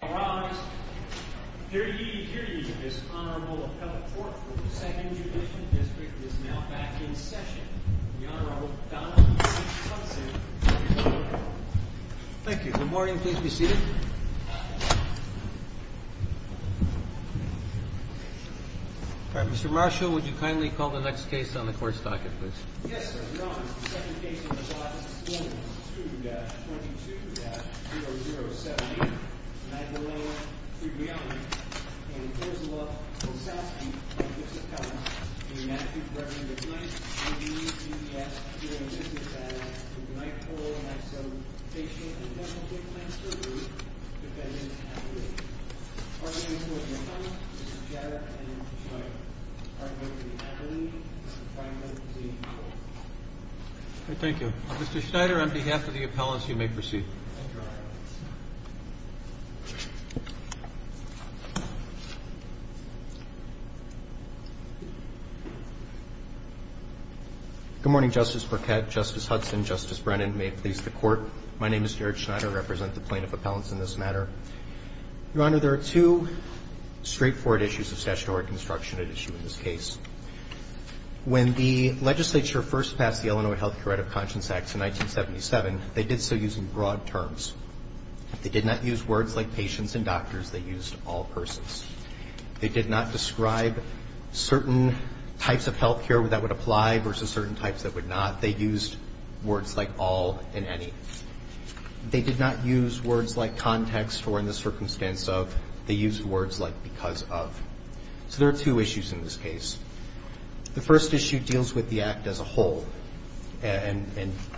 Your Honor, here to give you this Honorable Appellate Court for the Second Judicial District is now back in session, the Honorable Donald H. Thompson. Thank you. Good morning. Please be seated. Mr. Marshall, would you kindly call the next case on the Court's docket, please? Yes, sir. Your Honor, the second case on the docket is 42-22-0078, Magdalena Krewionek, and it falls aloft from South Street on Gibson Cove in the magnitude correction of McKnight v. B. S. Thank you. Mr. Schneider, on behalf of the appellants, you may proceed. Thank you, Your Honor. Good morning, Justice Burkett, Justice Hudson, Justice Brennan. May it please the Court, my name is Garrett Schneider. I represent the plaintiff appellants in this matter. Your Honor, there are two straightforward issues of statutory construction at issue in this case. When the legislature first passed the Illinois Health Care Right of Conscience Act in 1977, they did so using broad terms. They did not use words like patients and doctors. They used all persons. They did not describe certain types of health care that would apply versus certain types that would not. They used words like all and any. They did not use words like context or in the circumstance of. They used words like because of. So there are two issues in this case. The first issue deals with the Act as a whole and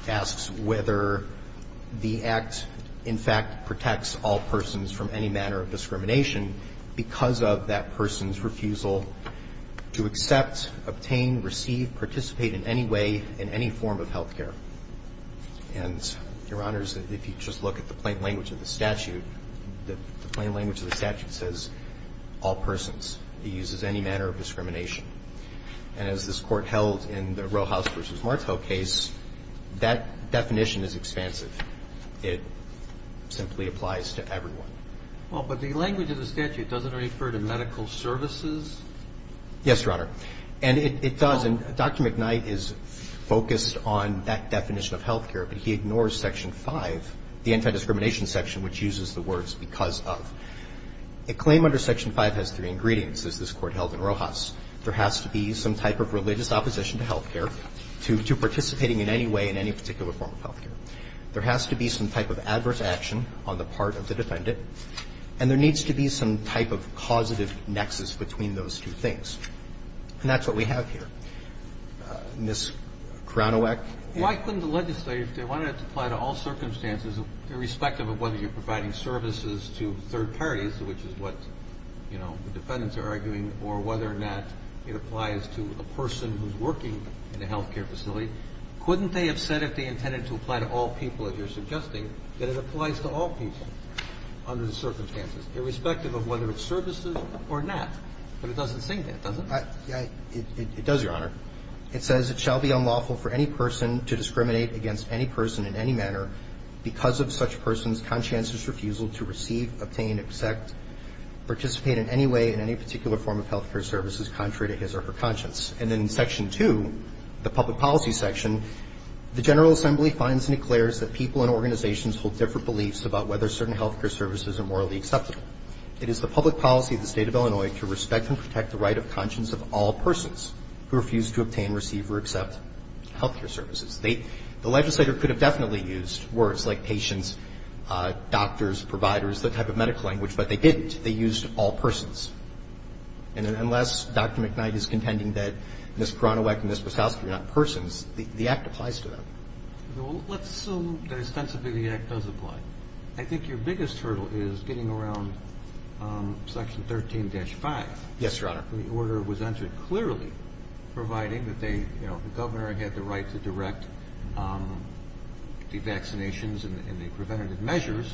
asks whether the Act, in fact, protects all persons from any manner of discrimination because of that person's refusal to accept, obtain, receive, participate in any way in any form of health care. And, Your Honors, if you just look at the plain language of the statute, the plain language of the statute is that it does not refer to all persons. It uses any manner of discrimination. And as this Court held in the Roehouse v. Martel case, that definition is expansive. It simply applies to everyone. Well, but the language of the statute doesn't refer to medical services? Yes, Your Honor. And it does. And Dr. McKnight is focused on that definition of health care, but he ignores Section 5, the anti-discrimination section, which uses the words because of. A claim under Section 5 has three ingredients, as this Court held in Roehouse. There has to be some type of religious opposition to health care, to participating in any way in any particular form of health care. There has to be some type of adverse action on the part of the defendant. And there needs to be some type of causative nexus between those two things. And that's what we have here. Ms. Kranowek. Why couldn't the legislature, if they wanted it to apply to all circumstances, irrespective of whether you're providing services to third parties, which is what the defendants are arguing, or whether or not it applies to a person who's working in a health care facility, couldn't they have said if they intended to apply to all people, as you're suggesting, that it applies to all people under the circumstances, irrespective of whether it's services or not? But it doesn't say that, does it? It does, Your Honor. It says it shall be unlawful for any person to discriminate against any person in any manner because of such person's conscientious refusal to receive, obtain, accept, participate in any way in any particular form of health care services contrary to his or her conscience. And then in Section 2, the public policy section, the General Assembly finds and declares that people and organizations hold different beliefs about whether certain health care services are morally acceptable. It is the public policy of the State of Illinois to respect and protect the right of conscience of all persons who refuse to obtain, receive, or accept health care services. They – the legislator could have definitely used words like patients, doctors, providers, that type of medical language, but they didn't. They used all persons. And unless Dr. McKnight is contending that Ms. Cronowick and Ms. Brasowski are not persons, the Act applies to them. Well, let's assume that ostensibly the Act does apply. I think your biggest hurdle is getting around Section 13-5. Yes, Your Honor. The order was entered clearly, providing that they, you know, the governor had the right to direct the vaccinations and the preventative measures,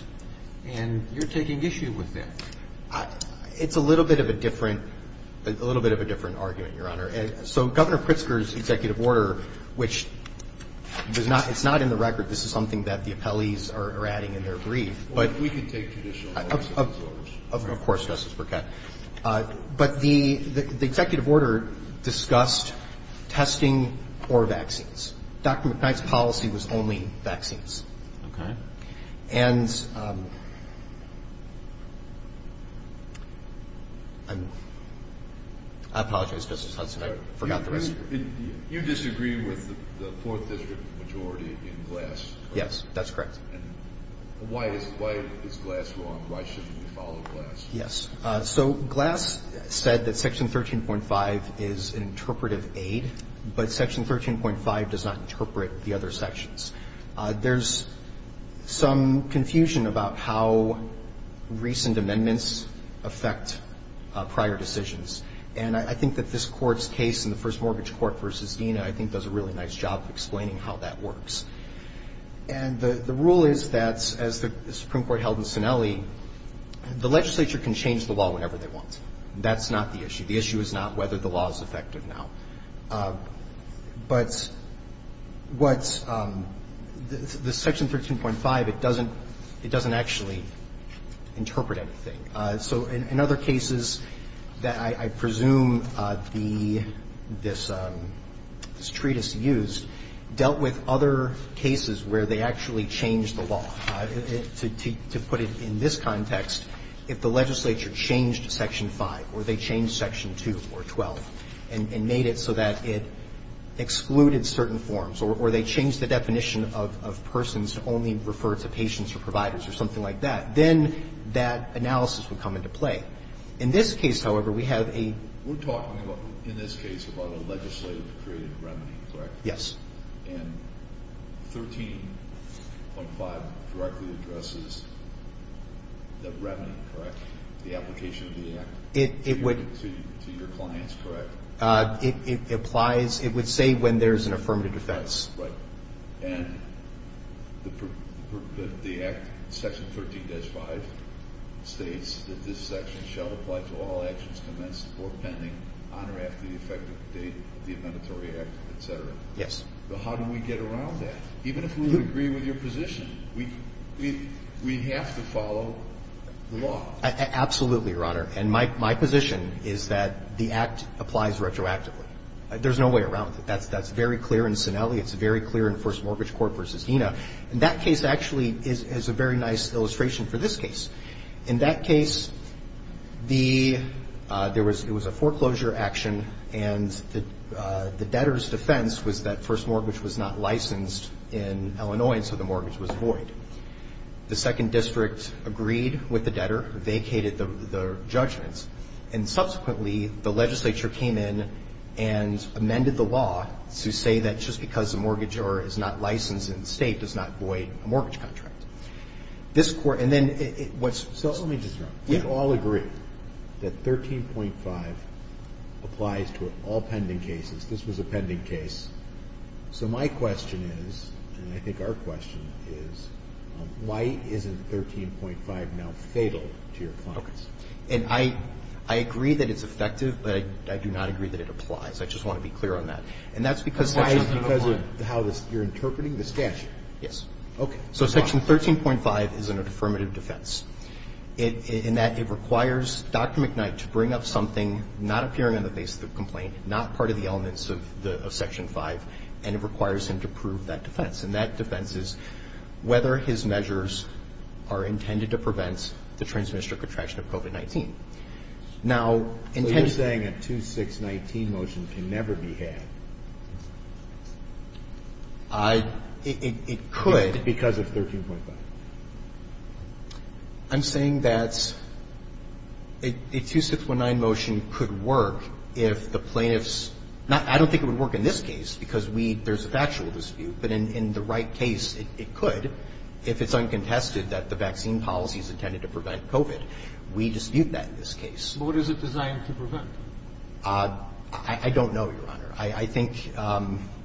and you're taking issue with that. It's a little bit of a different – a little bit of a different argument, Your Honor. So Governor Pritzker's executive order, which does not – it's not in the record. This is something that the appellees are adding in their brief. Well, we can take traditional orders. Of course, Justice Burkett. But the executive order discussed testing or vaccines. Dr. McKnight's policy was only vaccines. Okay. And I'm – I apologize, Justice Hudson. I forgot the rest of it. You disagree with the Fourth District majority in Glass, correct? Yes, that's correct. And why is Glass wrong? Why shouldn't we follow Glass? Yes. So Glass said that Section 13.5 is an interpretive aid, but Section 13.5 does not interpret the other sections. There's some confusion about how recent amendments affect prior decisions. And I think that this Court's case in the first mortgage court versus Dena, I think, does a really nice job of explaining how that works. And the rule is that, as the Supreme Court held in Sinelli, the legislature can change the law whenever they want. That's not the issue. The issue is not whether the law is effective now. But what's – the Section 13.5, it doesn't – it doesn't actually interpret anything. So in other cases that I presume the – this treatise used, dealt with other cases where they actually changed the law. To put it in this context, if the legislature changed Section 5 or they changed Section 2 or 12 and made it so that it excluded certain forms or they changed the definition of persons to only refer to patients or providers or something like that, then that analysis would come into play. In this case, however, we have a – We're talking in this case about a legislative creative remedy, correct? Yes. And 13.5 directly addresses the remedy, correct? The application of the act to your clients, correct? It applies – it would say when there's an affirmative defense. Right. And the act, Section 13.5, states that this section shall apply to all actions commenced or pending on or after the effective date of the amendatory act, et cetera. Yes. So how do we get around that? Even if we would agree with your position, we have to follow the law. Absolutely, Your Honor. And my position is that the act applies retroactively. There's no way around it. That's very clear in Sinelli. It's very clear in First Mortgage Court v. Dena. And that case actually is a very nice illustration for this case. In that case, the – there was – it was a foreclosure action, and the debtor's defense was that First Mortgage was not licensed in Illinois, and so the mortgage was void. The Second District agreed with the debtor, vacated the judgment, and subsequently the legislature came in and amended the law to say that just because a mortgagor is not licensed in the State does not void a mortgage contract. This Court – and then what's – So let me just – we all agree that 13.5 applies to all pending cases. This was a pending case. So my question is, and I think our question is, why isn't 13.5 now fatal to your clients? Okay. And I agree that it's effective, but I do not agree that it applies. I just want to be clear on that. And that's because – Why is it because of how you're interpreting the statute? Yes. Okay. So Section 13.5 is an affirmative defense in that it requires Dr. McKnight to bring up something not appearing on the basis of the complaint, not part of the elements of Section 5, and it requires him to prove that defense. And that defense is whether his measures are intended to prevent the Trans-District Attraction of COVID-19. Now – So you're saying a 2619 motion can never be had. I – it could. Because of 13.5. I'm saying that a 2619 motion could work if the plaintiffs – I don't think it would work in this case because we – there's a factual dispute. But in the right case, it could if it's uncontested that the vaccine policy is intended to prevent COVID. We dispute that in this case. But what is it designed to prevent? I don't know, Your Honor. I think,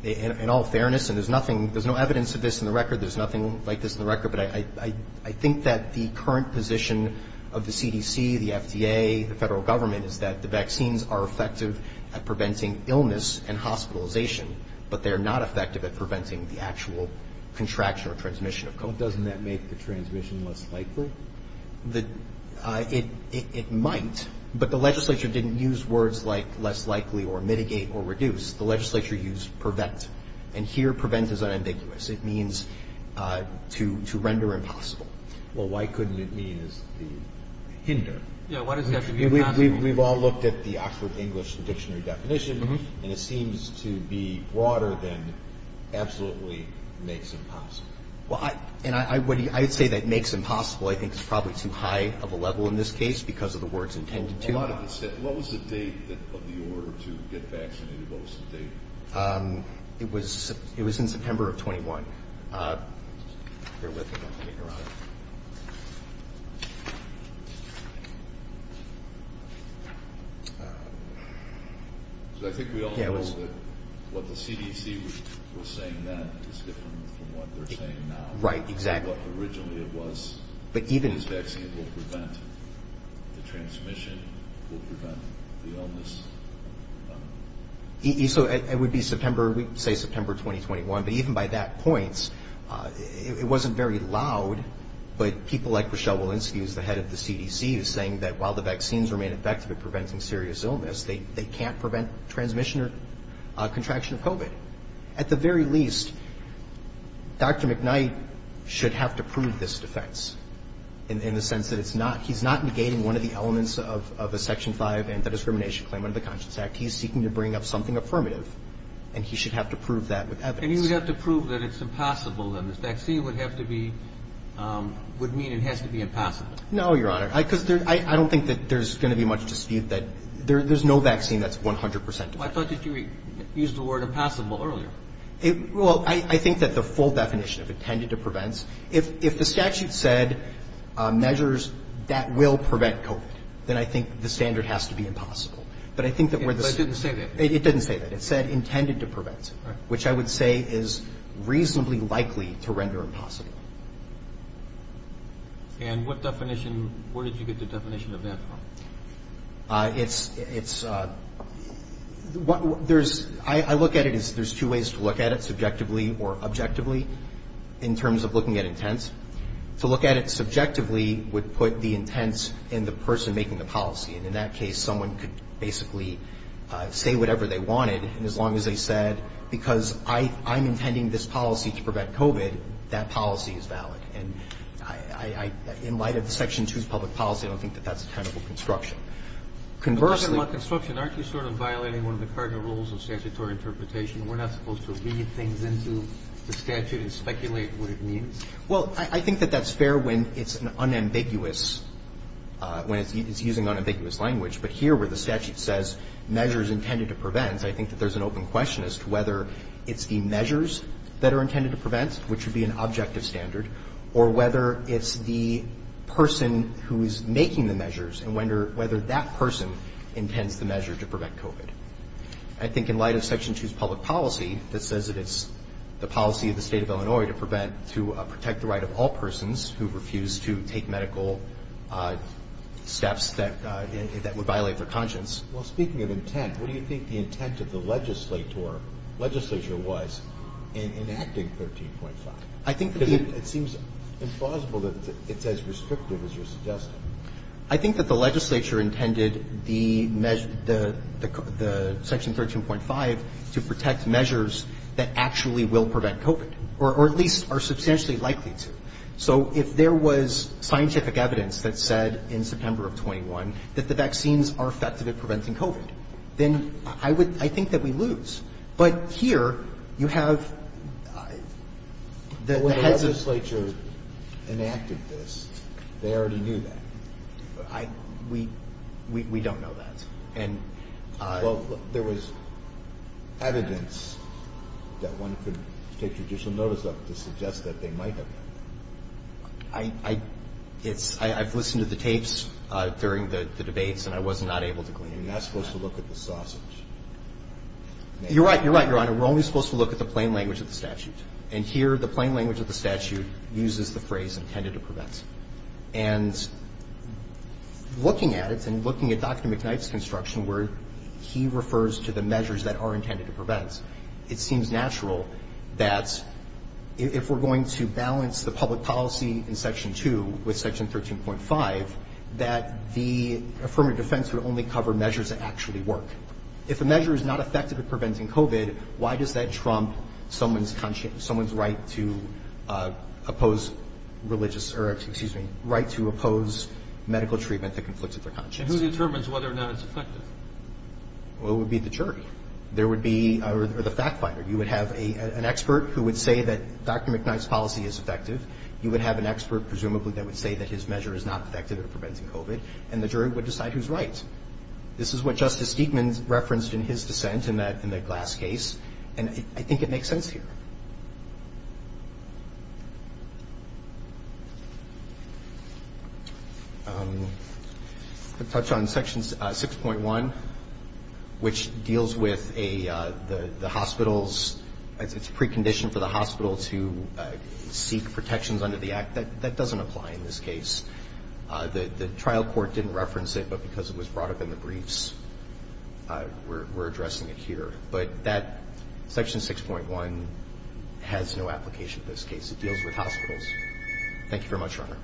in all fairness, and there's nothing – there's no evidence of this in the record. There's nothing like this in the record. But I think that the current position of the CDC, the FDA, the Federal Government is that the vaccines are effective at preventing illness and hospitalization, but they're not effective at preventing the actual contraction or transmission of COVID. But doesn't that make the transmission less likely? It might, but the legislature didn't use words like less likely or mitigate or reduce. The legislature used prevent. And here prevent is unambiguous. It means to render impossible. Well, why couldn't it mean as the hinder? Yeah, why does it have to be a hinder? We've all looked at the Oxford English Dictionary definition, and it seems to be broader than absolutely makes impossible. Well, and I would say that makes impossible I think is probably too high of a level in this case because of the words intended to. What was the date of the order to get vaccinated? What was the date? It was in September of 21. Bear with me a minute, Your Honor. So I think we all know that what the CDC was saying then is different from what they're saying now. Right, exactly. What originally it was, this vaccine will prevent the transmission, will prevent the illness. So it would be September, we say September 2021, but even by that point, it wasn't very loud. But people like Rochelle Walensky, who's the head of the CDC, is saying that while the vaccines remain effective at preventing serious illness, they can't prevent transmission or contraction of COVID. At the very least, Dr. McKnight should have to prove this defense in the sense that it's not. He's not negating one of the elements of a Section 5 anti-discrimination claim under the Conscience Act. He's seeking to bring up something affirmative, and he should have to prove that with evidence. And he would have to prove that it's impossible, and this vaccine would have to be – would mean it has to be impossible. No, Your Honor. Because I don't think that there's going to be much dispute that there's no vaccine that's 100 percent effective. Well, I thought that you used the word impossible earlier. Well, I think that the full definition of intended to prevent, if the statute said measures that will prevent COVID, then I think the standard has to be impossible. But I think that where the – But it didn't say that. It didn't say that. It said intended to prevent, which I would say is reasonably likely to render impossible. And what definition – where did you get the definition of that from? It's – there's – I look at it as there's two ways to look at it, subjectively or objectively, in terms of looking at intents. To look at it subjectively would put the intents in the person making the policy. And in that case, someone could basically say whatever they wanted, and as long as they said, because I'm intending this policy to prevent COVID, that policy is valid. And I – in light of Section 2's public policy, I don't think that that's a technical construction. Conversely – I'm talking about construction. Aren't you sort of violating one of the cardinal rules of statutory interpretation? We're not supposed to read things into the statute and speculate what it means? Well, I think that that's fair when it's an unambiguous – when it's using unambiguous language. But here, where the statute says measures intended to prevent, I think that there's an open question as to whether it's the measures that are intended to prevent, which would be an objective standard, or whether it's the person who is making the measures and whether that person intends the measure to prevent COVID. I think in light of Section 2's public policy, that says that it's the policy of the State of Illinois to prevent – to protect the right of all persons who refuse to take medical steps that would violate their conscience. Well, speaking of intent, what do you think the intent of the legislature was in enacting 13.5? I think that the – Because it seems implausible that it's as restrictive as you're suggesting. I think that the legislature intended the Section 13.5 to protect measures that actually will prevent COVID, or at least are substantially likely to. So if there was scientific evidence that said in September of 21 that the vaccines are effective at preventing COVID, then I would – I think that we lose. But here, you have the heads of – You're right. You're right, Your Honor. We're only supposed to look at the plain language of the statute. And here, the plain language of the statute uses the phrase intended to prevent. And looking at it and looking at Dr. McKnight's construction, where he refers to the measures that are intended to prevent, it seems natural that if we're going to balance the public policy in Section 2 with Section 13.5, that the affirmative defense would only cover measures that actually work. If a measure is not effective at preventing COVID, why does that trump someone's right to oppose religious – or, excuse me, right to oppose medical treatment that conflicts with their conscience? And who determines whether or not it's effective? Well, it would be the jury. There would be – or the fact finder. You would have an expert who would say that Dr. McKnight's policy is effective. You would have an expert, presumably, that would say that his measure is not effective at preventing COVID. And the jury would decide who's right. This is what Justice Steedman referenced in his dissent in the Glass case. And I think it makes sense here. I'm going to touch on Section 6.1, which deals with the hospital's – its precondition for the hospital to seek protections under the act. That doesn't apply in this case. The trial court didn't reference it, but because it was brought up in the briefs, we're addressing it here. But that – Section 6.1 has no application in this case. It deals with hospitals. Thank you very much, Your Honor.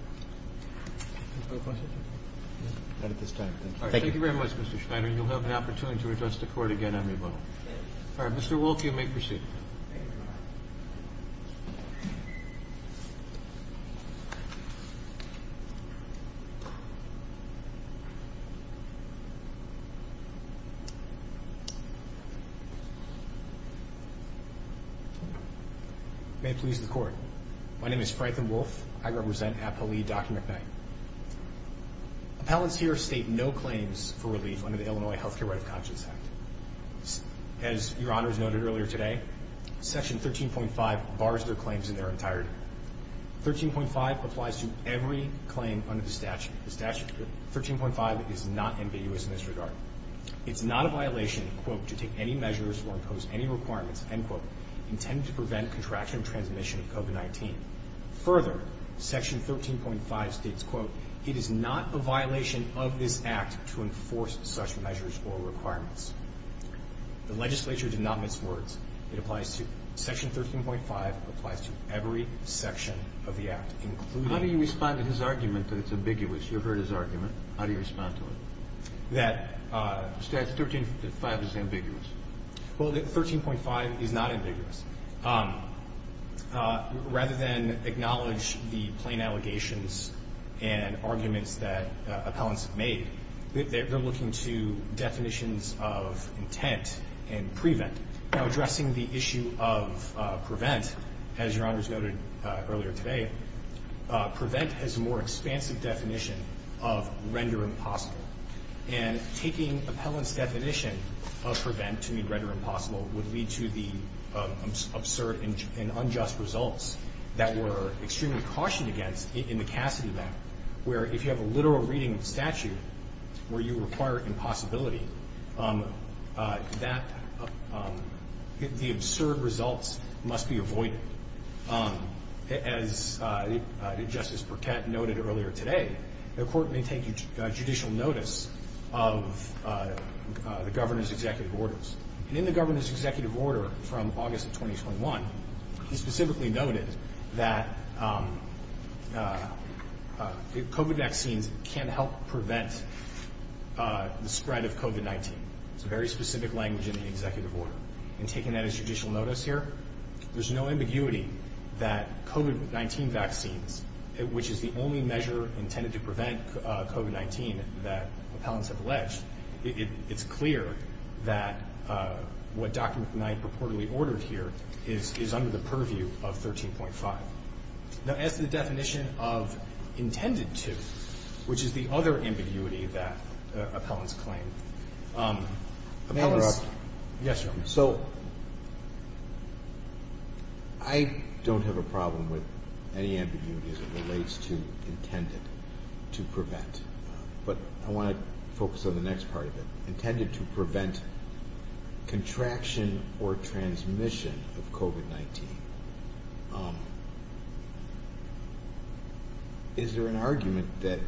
No questions? Not at this time. Thank you. Thank you very much, Mr. Schneider. And you'll have an opportunity to address the Court again on revote. All right. Mr. Wolf, you may proceed. Thank you, Your Honor. May it please the Court. My name is Franklin Wolf. I represent Apo Lee, Dr. McKnight. Appellants here state no claims for relief under the Illinois Health Care Right of Conscience Act. As Your Honor has noted earlier today, Section 13.5 bars their claims in their entirety. 13.5 applies to every claim under the statute. The statute – 13.5 is not ambiguous in this regard. It's not a violation, quote, to take any measures or impose any requirements, end quote, intended to prevent contraction and transmission of COVID-19. Further, Section 13.5 states, quote, It is not a violation of this Act to enforce such measures or requirements. The legislature did not miss words. It applies to – Section 13.5 applies to every section of the Act, including – How do you respond to his argument that it's ambiguous? You've heard his argument. How do you respond to it? That – Well, 13.5 is not ambiguous. Rather than acknowledge the plain allegations and arguments that appellants have made, they're looking to definitions of intent and prevent. Now, addressing the issue of prevent, as Your Honor has noted earlier today, prevent has a more expansive definition of render impossible, and taking appellants' definition of prevent to mean render impossible would lead to the absurd and unjust results that were extremely cautioned against in the Cassidy Act, where if you have a literal reading of statute where you require impossibility, that – the absurd results must be avoided. As Justice Burkett noted earlier today, the Court may take judicial notice of the governor's executive orders. And in the governor's executive order from August of 2021, he specifically noted that COVID vaccines can help prevent the spread of COVID-19. It's a very specific language in the executive order. And taking that as judicial notice here, there's no ambiguity that COVID-19 vaccines, which is the only measure intended to prevent COVID-19 that appellants have alleged, it's clear that what Dr. McKnight purportedly ordered here is under the purview of 13.5. Now, as to the definition of intended to, which is the other ambiguity that appellants claim, appellants – May I interrupt? Yes, Your Honor. So I don't have a problem with any ambiguity as it relates to intended to prevent. But I want to focus on the next part of it. Intended to prevent contraction or transmission of COVID-19. Is there an argument that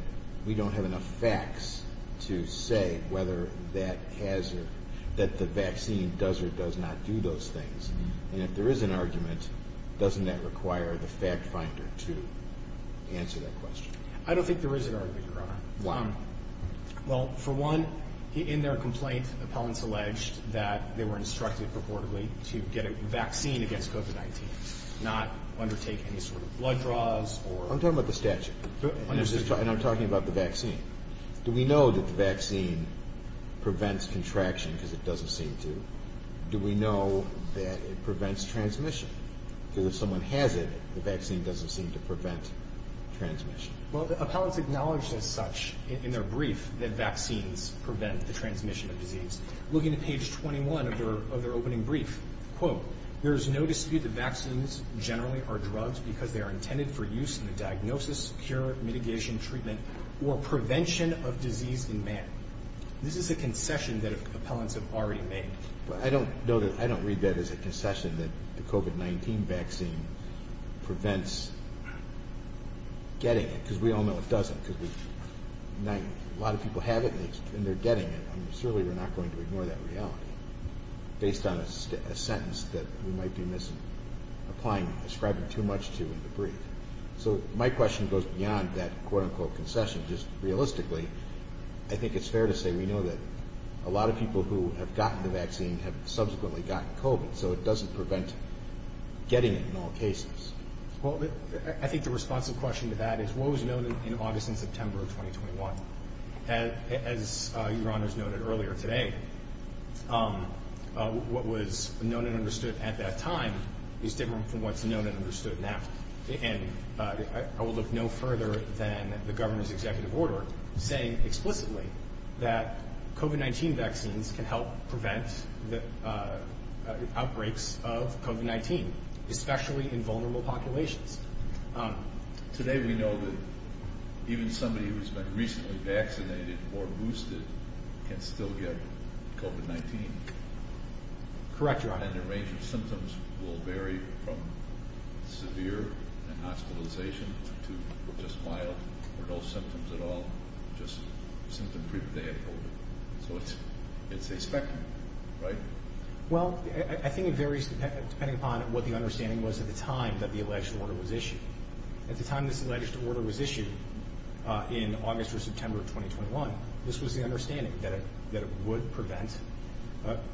we don't have enough facts to say whether that has – that the vaccine does or does not do those things? And if there is an argument, doesn't that require the fact finder to answer that question? I don't think there is an argument, Your Honor. Why? Well, for one, in their complaint, appellants alleged that they were instructed purportedly to get a vaccine against COVID-19, not undertake any sort of blood draws or – I'm talking about the statute. And I'm talking about the vaccine. Do we know that the vaccine prevents contraction because it doesn't seem to? Do we know that it prevents transmission? Because if someone has it, the vaccine doesn't seem to prevent transmission. Well, the appellants acknowledged as such in their brief that vaccines prevent the transmission of disease. Look into page 21 of their opening brief. Quote, there is no dispute that vaccines generally are drugs because they are intended for use in the diagnosis, cure, mitigation, treatment, or prevention of disease in man. This is a concession that appellants have already made. But I don't read that as a concession that the COVID-19 vaccine prevents getting it because we all know it doesn't because a lot of people have it and they're getting it. I mean, certainly we're not going to ignore that reality based on a sentence that we might be misapplying, ascribing too much to in the brief. So my question goes beyond that quote-unquote concession. Just realistically, I think it's fair to say we know that a lot of people who have gotten the vaccine have subsequently gotten COVID, so it doesn't prevent getting it in all cases. Well, I think the responsive question to that is what was known in August and September of 2021. As Your Honors noted earlier today, what was known and understood at that time is different from what's known and understood now. And I will look no further than the governor's executive order saying explicitly that COVID-19 vaccines can help prevent the outbreaks of COVID-19, especially in vulnerable populations. Today we know that even somebody who's been recently vaccinated or boosted can still get COVID-19. Correct, Your Honor. And the range of symptoms will vary from severe and hospitalization to just mild or no symptoms at all, just symptom proof they have COVID. So it's a spectrum, right? Well, I think it varies depending upon what the understanding was at the time that the alleged order was issued. At the time this alleged order was issued in August or September of 2021, this was the understanding that it would prevent,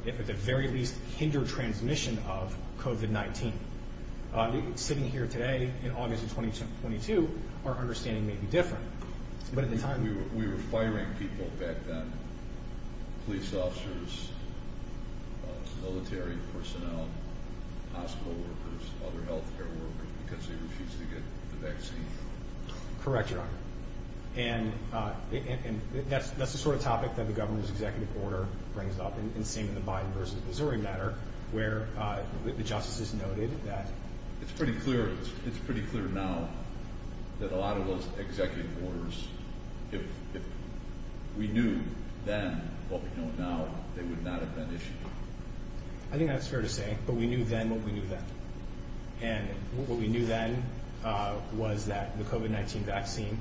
if at the very least hinder transmission of COVID-19. Sitting here today in August of 2022, our understanding may be different. We were firing people back then, police officers, military personnel, hospital workers, other health care workers, because they refused to get the vaccine. Correct, Your Honor. And that's the sort of topic that the governor's executive order brings up, in seeing the Biden versus Missouri matter, where the justices noted that It's pretty clear now that a lot of those executive orders, if we knew then what we know now, they would not have been issued. I think that's fair to say, but we knew then what we knew then. And what we knew then was that the COVID-19 vaccine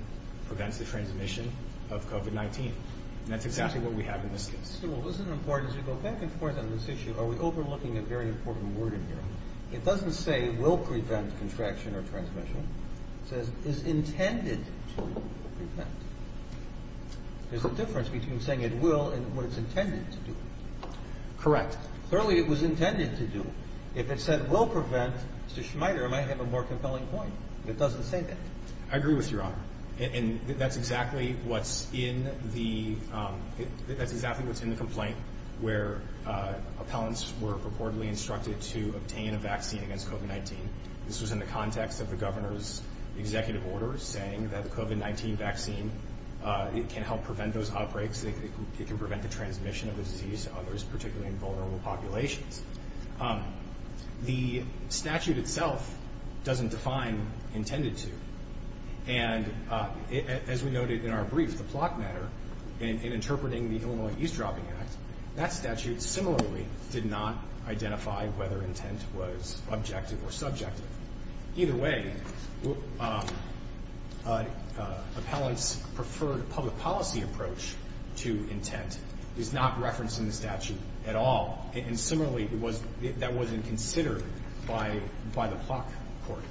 prevents the transmission of COVID-19. And that's exactly what we have in this case. Mr. Stewart, isn't it important as you go back and forth on this issue, are we overlooking a very important word in here? It doesn't say it will prevent contraction or transmission. It says it's intended to prevent. There's a difference between saying it will and what it's intended to do. Correct. Clearly it was intended to do. If it said it will prevent, Mr. Schmider, it might have a more compelling point. It doesn't say that. I agree with you, Your Honor. And that's exactly what's in the complaint, where appellants were purportedly instructed to obtain a vaccine against COVID-19. This was in the context of the governor's executive order saying that the COVID-19 vaccine, it can help prevent those outbreaks. It can prevent the transmission of the disease to others, particularly in vulnerable populations. The statute itself doesn't define intended to. And as we noted in our brief, the plot matter, in interpreting the Illinois East Dropping Act, that statute similarly did not identify whether intent was objective or subjective. Either way, appellants' preferred public policy approach to intent is not referenced in the statute at all. And similarly, that wasn't considered by the Plot Court.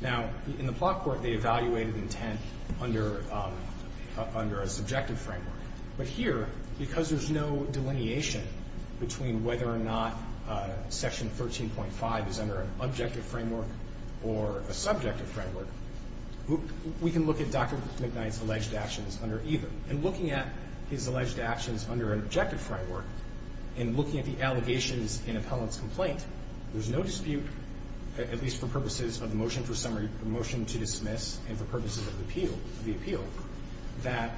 Now, in the Plot Court, they evaluated intent under a subjective framework. But here, because there's no delineation between whether or not Section 13.5 is under an objective framework or a subjective framework, we can look at Dr. McKnight's alleged actions under either. And looking at his alleged actions under an objective framework and looking at the allegations in appellant's complaint, there's no dispute, at least for purposes of the motion to dismiss and for purposes of the appeal, that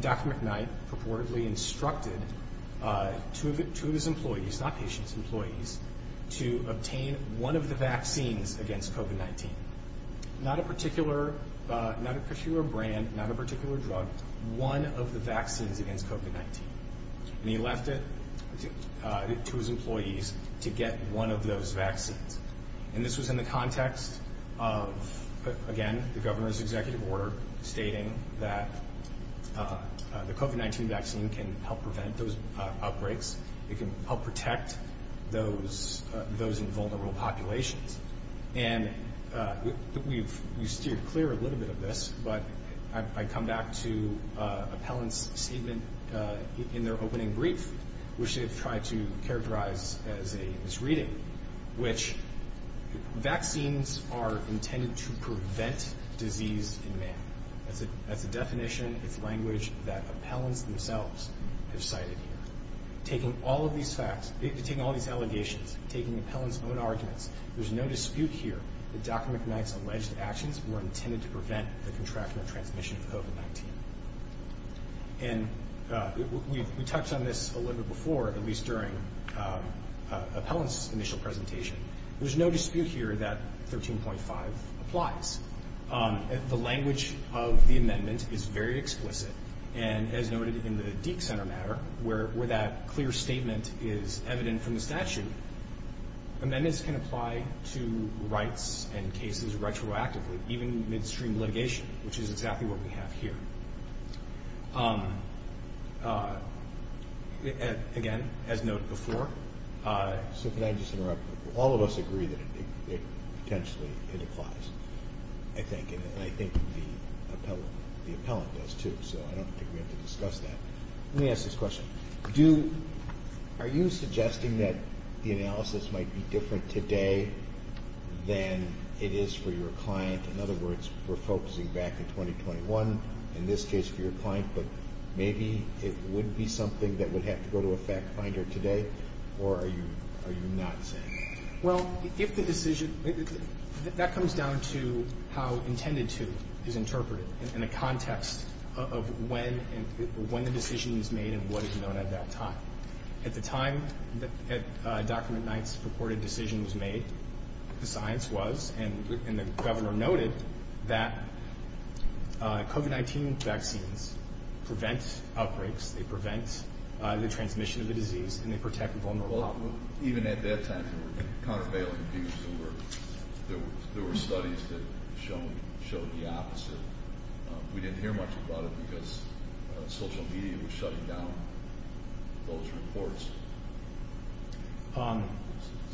Dr. McKnight purportedly instructed two of his employees, not patients, employees, to obtain one of the vaccines against COVID-19. Not a particular brand, not a particular drug, one of the vaccines against COVID-19. And he left it to his employees to get one of those vaccines. And this was in the context of, again, the governor's executive order stating that the COVID-19 vaccine can help prevent those outbreaks. It can help protect those in vulnerable populations. And we've steered clear a little bit of this, but I come back to appellant's statement in their opening brief, which they've tried to characterize as a misreading, which vaccines are intended to prevent disease in man. That's a definition, it's language that appellants themselves have cited here. Taking all of these facts, taking all these allegations, taking appellant's own arguments, there's no dispute here that Dr. McKnight's alleged actions were intended to prevent the contractual transmission of COVID-19. And we touched on this a little bit before, at least during appellant's initial presentation. There's no dispute here that 13.5 applies. The language of the amendment is very explicit. And as noted in the Deke Center matter, where that clear statement is evident from the statute, amendments can apply to rights and cases retroactively, even midstream litigation, which is exactly what we have here. Again, as noted before. So can I just interrupt? All of us agree that potentially it applies, I think, and I think the appellant does, too. So I don't think we have to discuss that. Let me ask this question. Are you suggesting that the analysis might be different today than it is for your client? In other words, we're focusing back in 2021, in this case for your client, but maybe it would be something that would have to go to a fact finder today, or are you not saying? Well, if the decision – that comes down to how intended to is interpreted in a context of when the decision is made and what is known at that time. At the time that Dr. McKnight's purported decision was made, the science was, and the governor noted, that COVID-19 vaccines prevent outbreaks, they prevent the transmission of the disease, and they protect vulnerable populations. Even at that time, there were countervailing views. There were studies that showed the opposite. We didn't hear much about it because social media was shutting down those reports.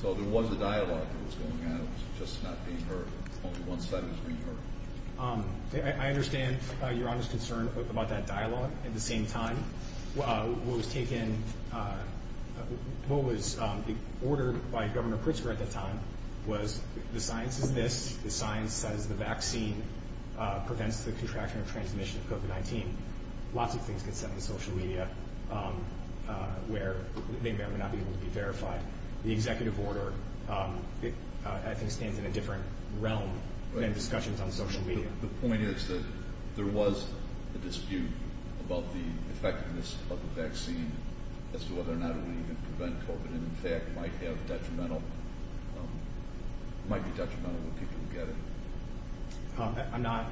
So there was a dialogue that was going on. It was just not being heard. Only one side was being heard. I understand your honest concern about that dialogue. At the same time, what was taken – what was ordered by Governor Pritzker at the time was the science is this, the science says the vaccine prevents the contraction or transmission of COVID-19. Lots of things get sent to social media where they may or may not be able to be verified. The executive order, I think, stands in a different realm than discussions on social media. The point is that there was a dispute about the effectiveness of the vaccine as to whether or not it would even prevent COVID and, in fact, might have detrimental – might be detrimental to people who get it. I'm not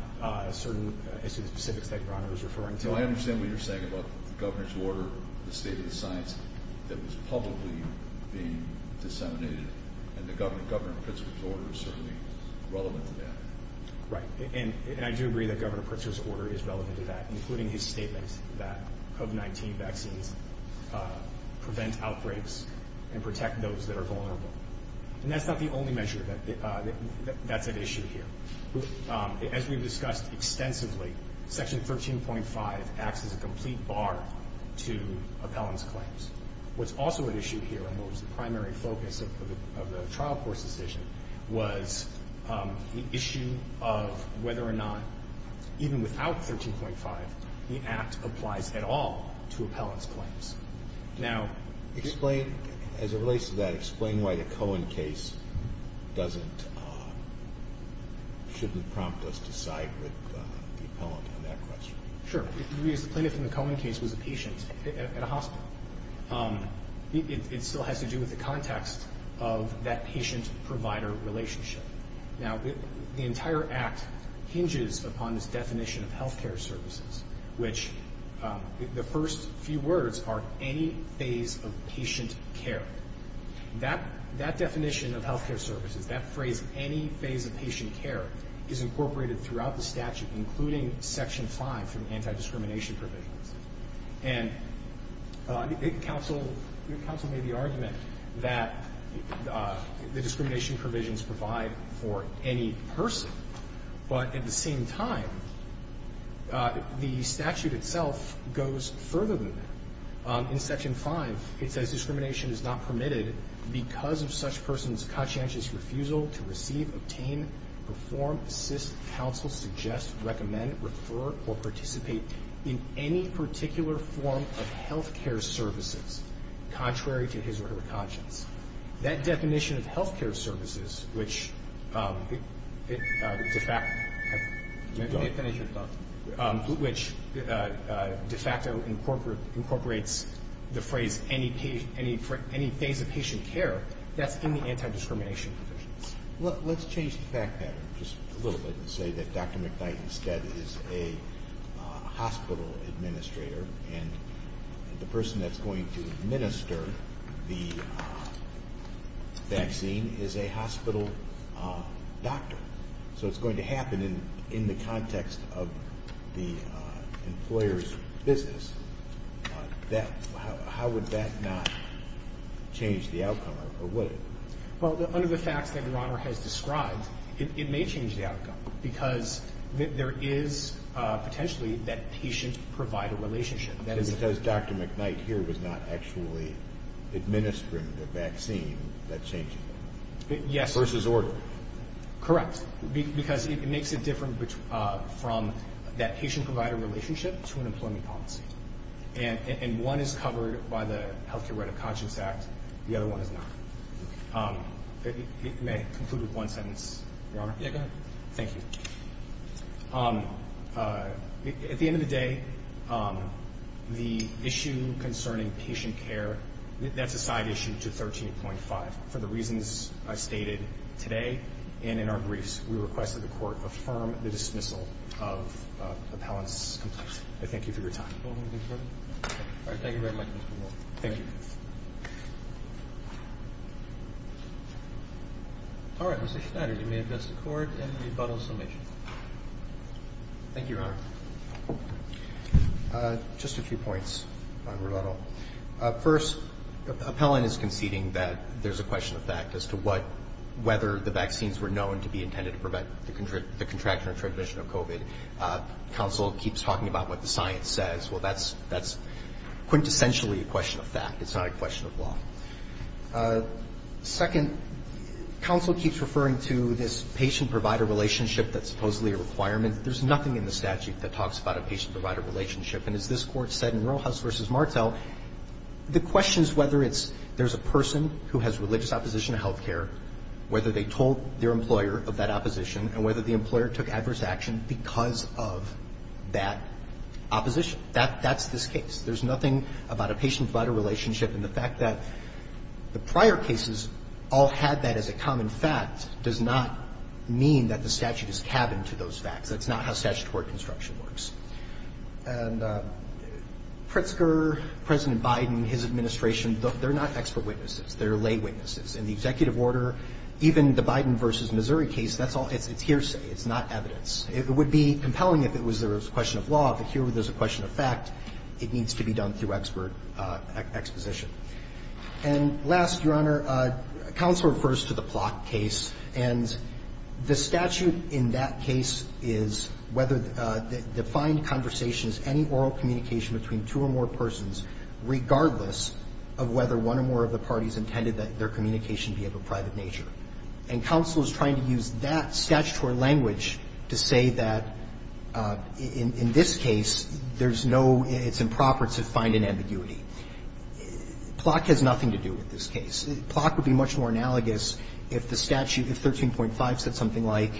certain as to the specifics that you're referring to. No, I understand what you're saying about the governor's order, the state of the science that was publicly being disseminated, and Governor Pritzker's order is certainly relevant to that. Right, and I do agree that Governor Pritzker's order is relevant to that, including his statement that COVID-19 vaccines prevent outbreaks and protect those that are vulnerable. And that's not the only measure that's at issue here. As we've discussed extensively, Section 13.5 acts as a complete bar to appellants' claims. What's also at issue here and what was the primary focus of the trial court's decision was the issue of whether or not, even without 13.5, the act applies at all to appellants' claims. Now – Explain – as it relates to that, explain why the Cohen case doesn't – shouldn't prompt us to side with the appellant on that question. Sure. The plaintiff in the Cohen case was a patient at a hospital. It still has to do with the context of that patient-provider relationship. Now, the entire act hinges upon this definition of health care services, which the first few words are any phase of patient care. That definition of health care services, that phrase, any phase of patient care, is incorporated throughout the statute, including Section 5 for the anti-discrimination provisions. And counsel made the argument that the discrimination provisions provide for any person. But at the same time, the statute itself goes further than that. In Section 5, it says, Discrimination is not permitted because of such person's conscientious refusal to receive, obtain, perform, assist, counsel, suggest, recommend, refer, or participate in any particular form of health care services contrary to his or her conscience. That definition of health care services, which de facto incorporates the phrase any phase of patient care, that's in the anti-discrimination provisions. Let's change the fact pattern just a little bit and say that Dr. McKnight instead is a hospital administrator and the person that's going to administer the vaccine is a hospital doctor. So it's going to happen in the context of the employer's business. How would that not change the outcome, or would it? Well, under the facts that Your Honor has described, it may change the outcome because there is potentially that patient-provider relationship. Because Dr. McKnight here was not actually administering the vaccine, that changes it. Yes. Versus order. Correct. Because it makes it different from that patient-provider relationship to an employment policy. And one is covered by the Health Care Right of Conscience Act. The other one is not. It may conclude with one sentence, Your Honor. Yeah, go ahead. Thank you. At the end of the day, the issue concerning patient care, that's a side issue to 13.5. For the reasons I stated today and in our briefs, we request that the Court affirm the dismissal of appellants complete. I thank you for your time. All right. Thank you very much, Mr. Moore. Thank you. All right. Mr. Schneider, you may address the Court in rebuttal summation. Thank you, Your Honor. Just a few points on rebuttal. First, appellant is conceding that there's a question of fact as to whether the vaccines were known to be intended to prevent the contraction or transmission of COVID. Counsel keeps talking about what the science says. Well, that's quintessentially a question of fact. It's not a question of law. Second, counsel keeps referring to this patient-provider relationship that's supposedly a requirement. There's nothing in the statute that talks about a patient-provider relationship. And as this Court said in Roehouse v. Martel, the question is whether it's there's a person who has religious opposition to health care, whether they told their employer of that opposition, and whether the employer took adverse action because of that opposition. That's this case. There's nothing about a patient-provider relationship. And the fact that the prior cases all had that as a common fact does not mean that the statute is cabin to those facts. That's not how statutory construction works. And Pritzker, President Biden, his administration, they're not expert witnesses. They're lay witnesses. In the executive order, even the Biden v. Missouri case, it's hearsay. It's not evidence. It would be compelling if it was a question of law. But here there's a question of fact. It needs to be done through expert exposition. And last, Your Honor, counsel refers to the Plott case. And the statute in that case is whether the defined conversation is any oral communication between two or more persons, regardless of whether one or more of the parties intended that their communication be of a private nature. And counsel is trying to use that statutory language to say that, in this case, there's no improper to find an ambiguity. Plott has nothing to do with this case. Plott would be much more analogous if the statute, if 13.5 said something like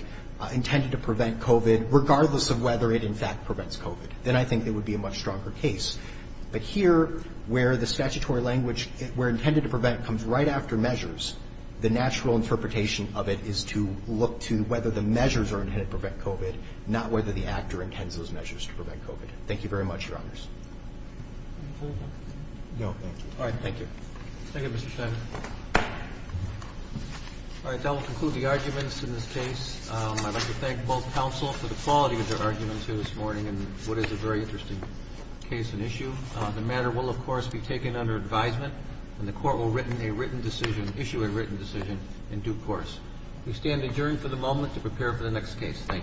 intended to prevent COVID, regardless of whether it in fact prevents COVID. Then I think it would be a much stronger case. But here, where the statutory language, where intended to prevent comes right after measures, the natural interpretation of it is to look to whether the measures are intended to prevent COVID, not whether the actor intends those measures to prevent COVID. Thank you very much, Your Honors. No, thank you. All right. Thank you. Thank you, Mr. Schneider. All right. That will conclude the arguments in this case. I'd like to thank both counsel for the quality of their arguments here this morning and what is a very interesting case and issue. The matter will, of course, be taken under advisement. And the court will issue a written decision in due course. We stand adjourned for the moment to prepare for the next case. Thank you.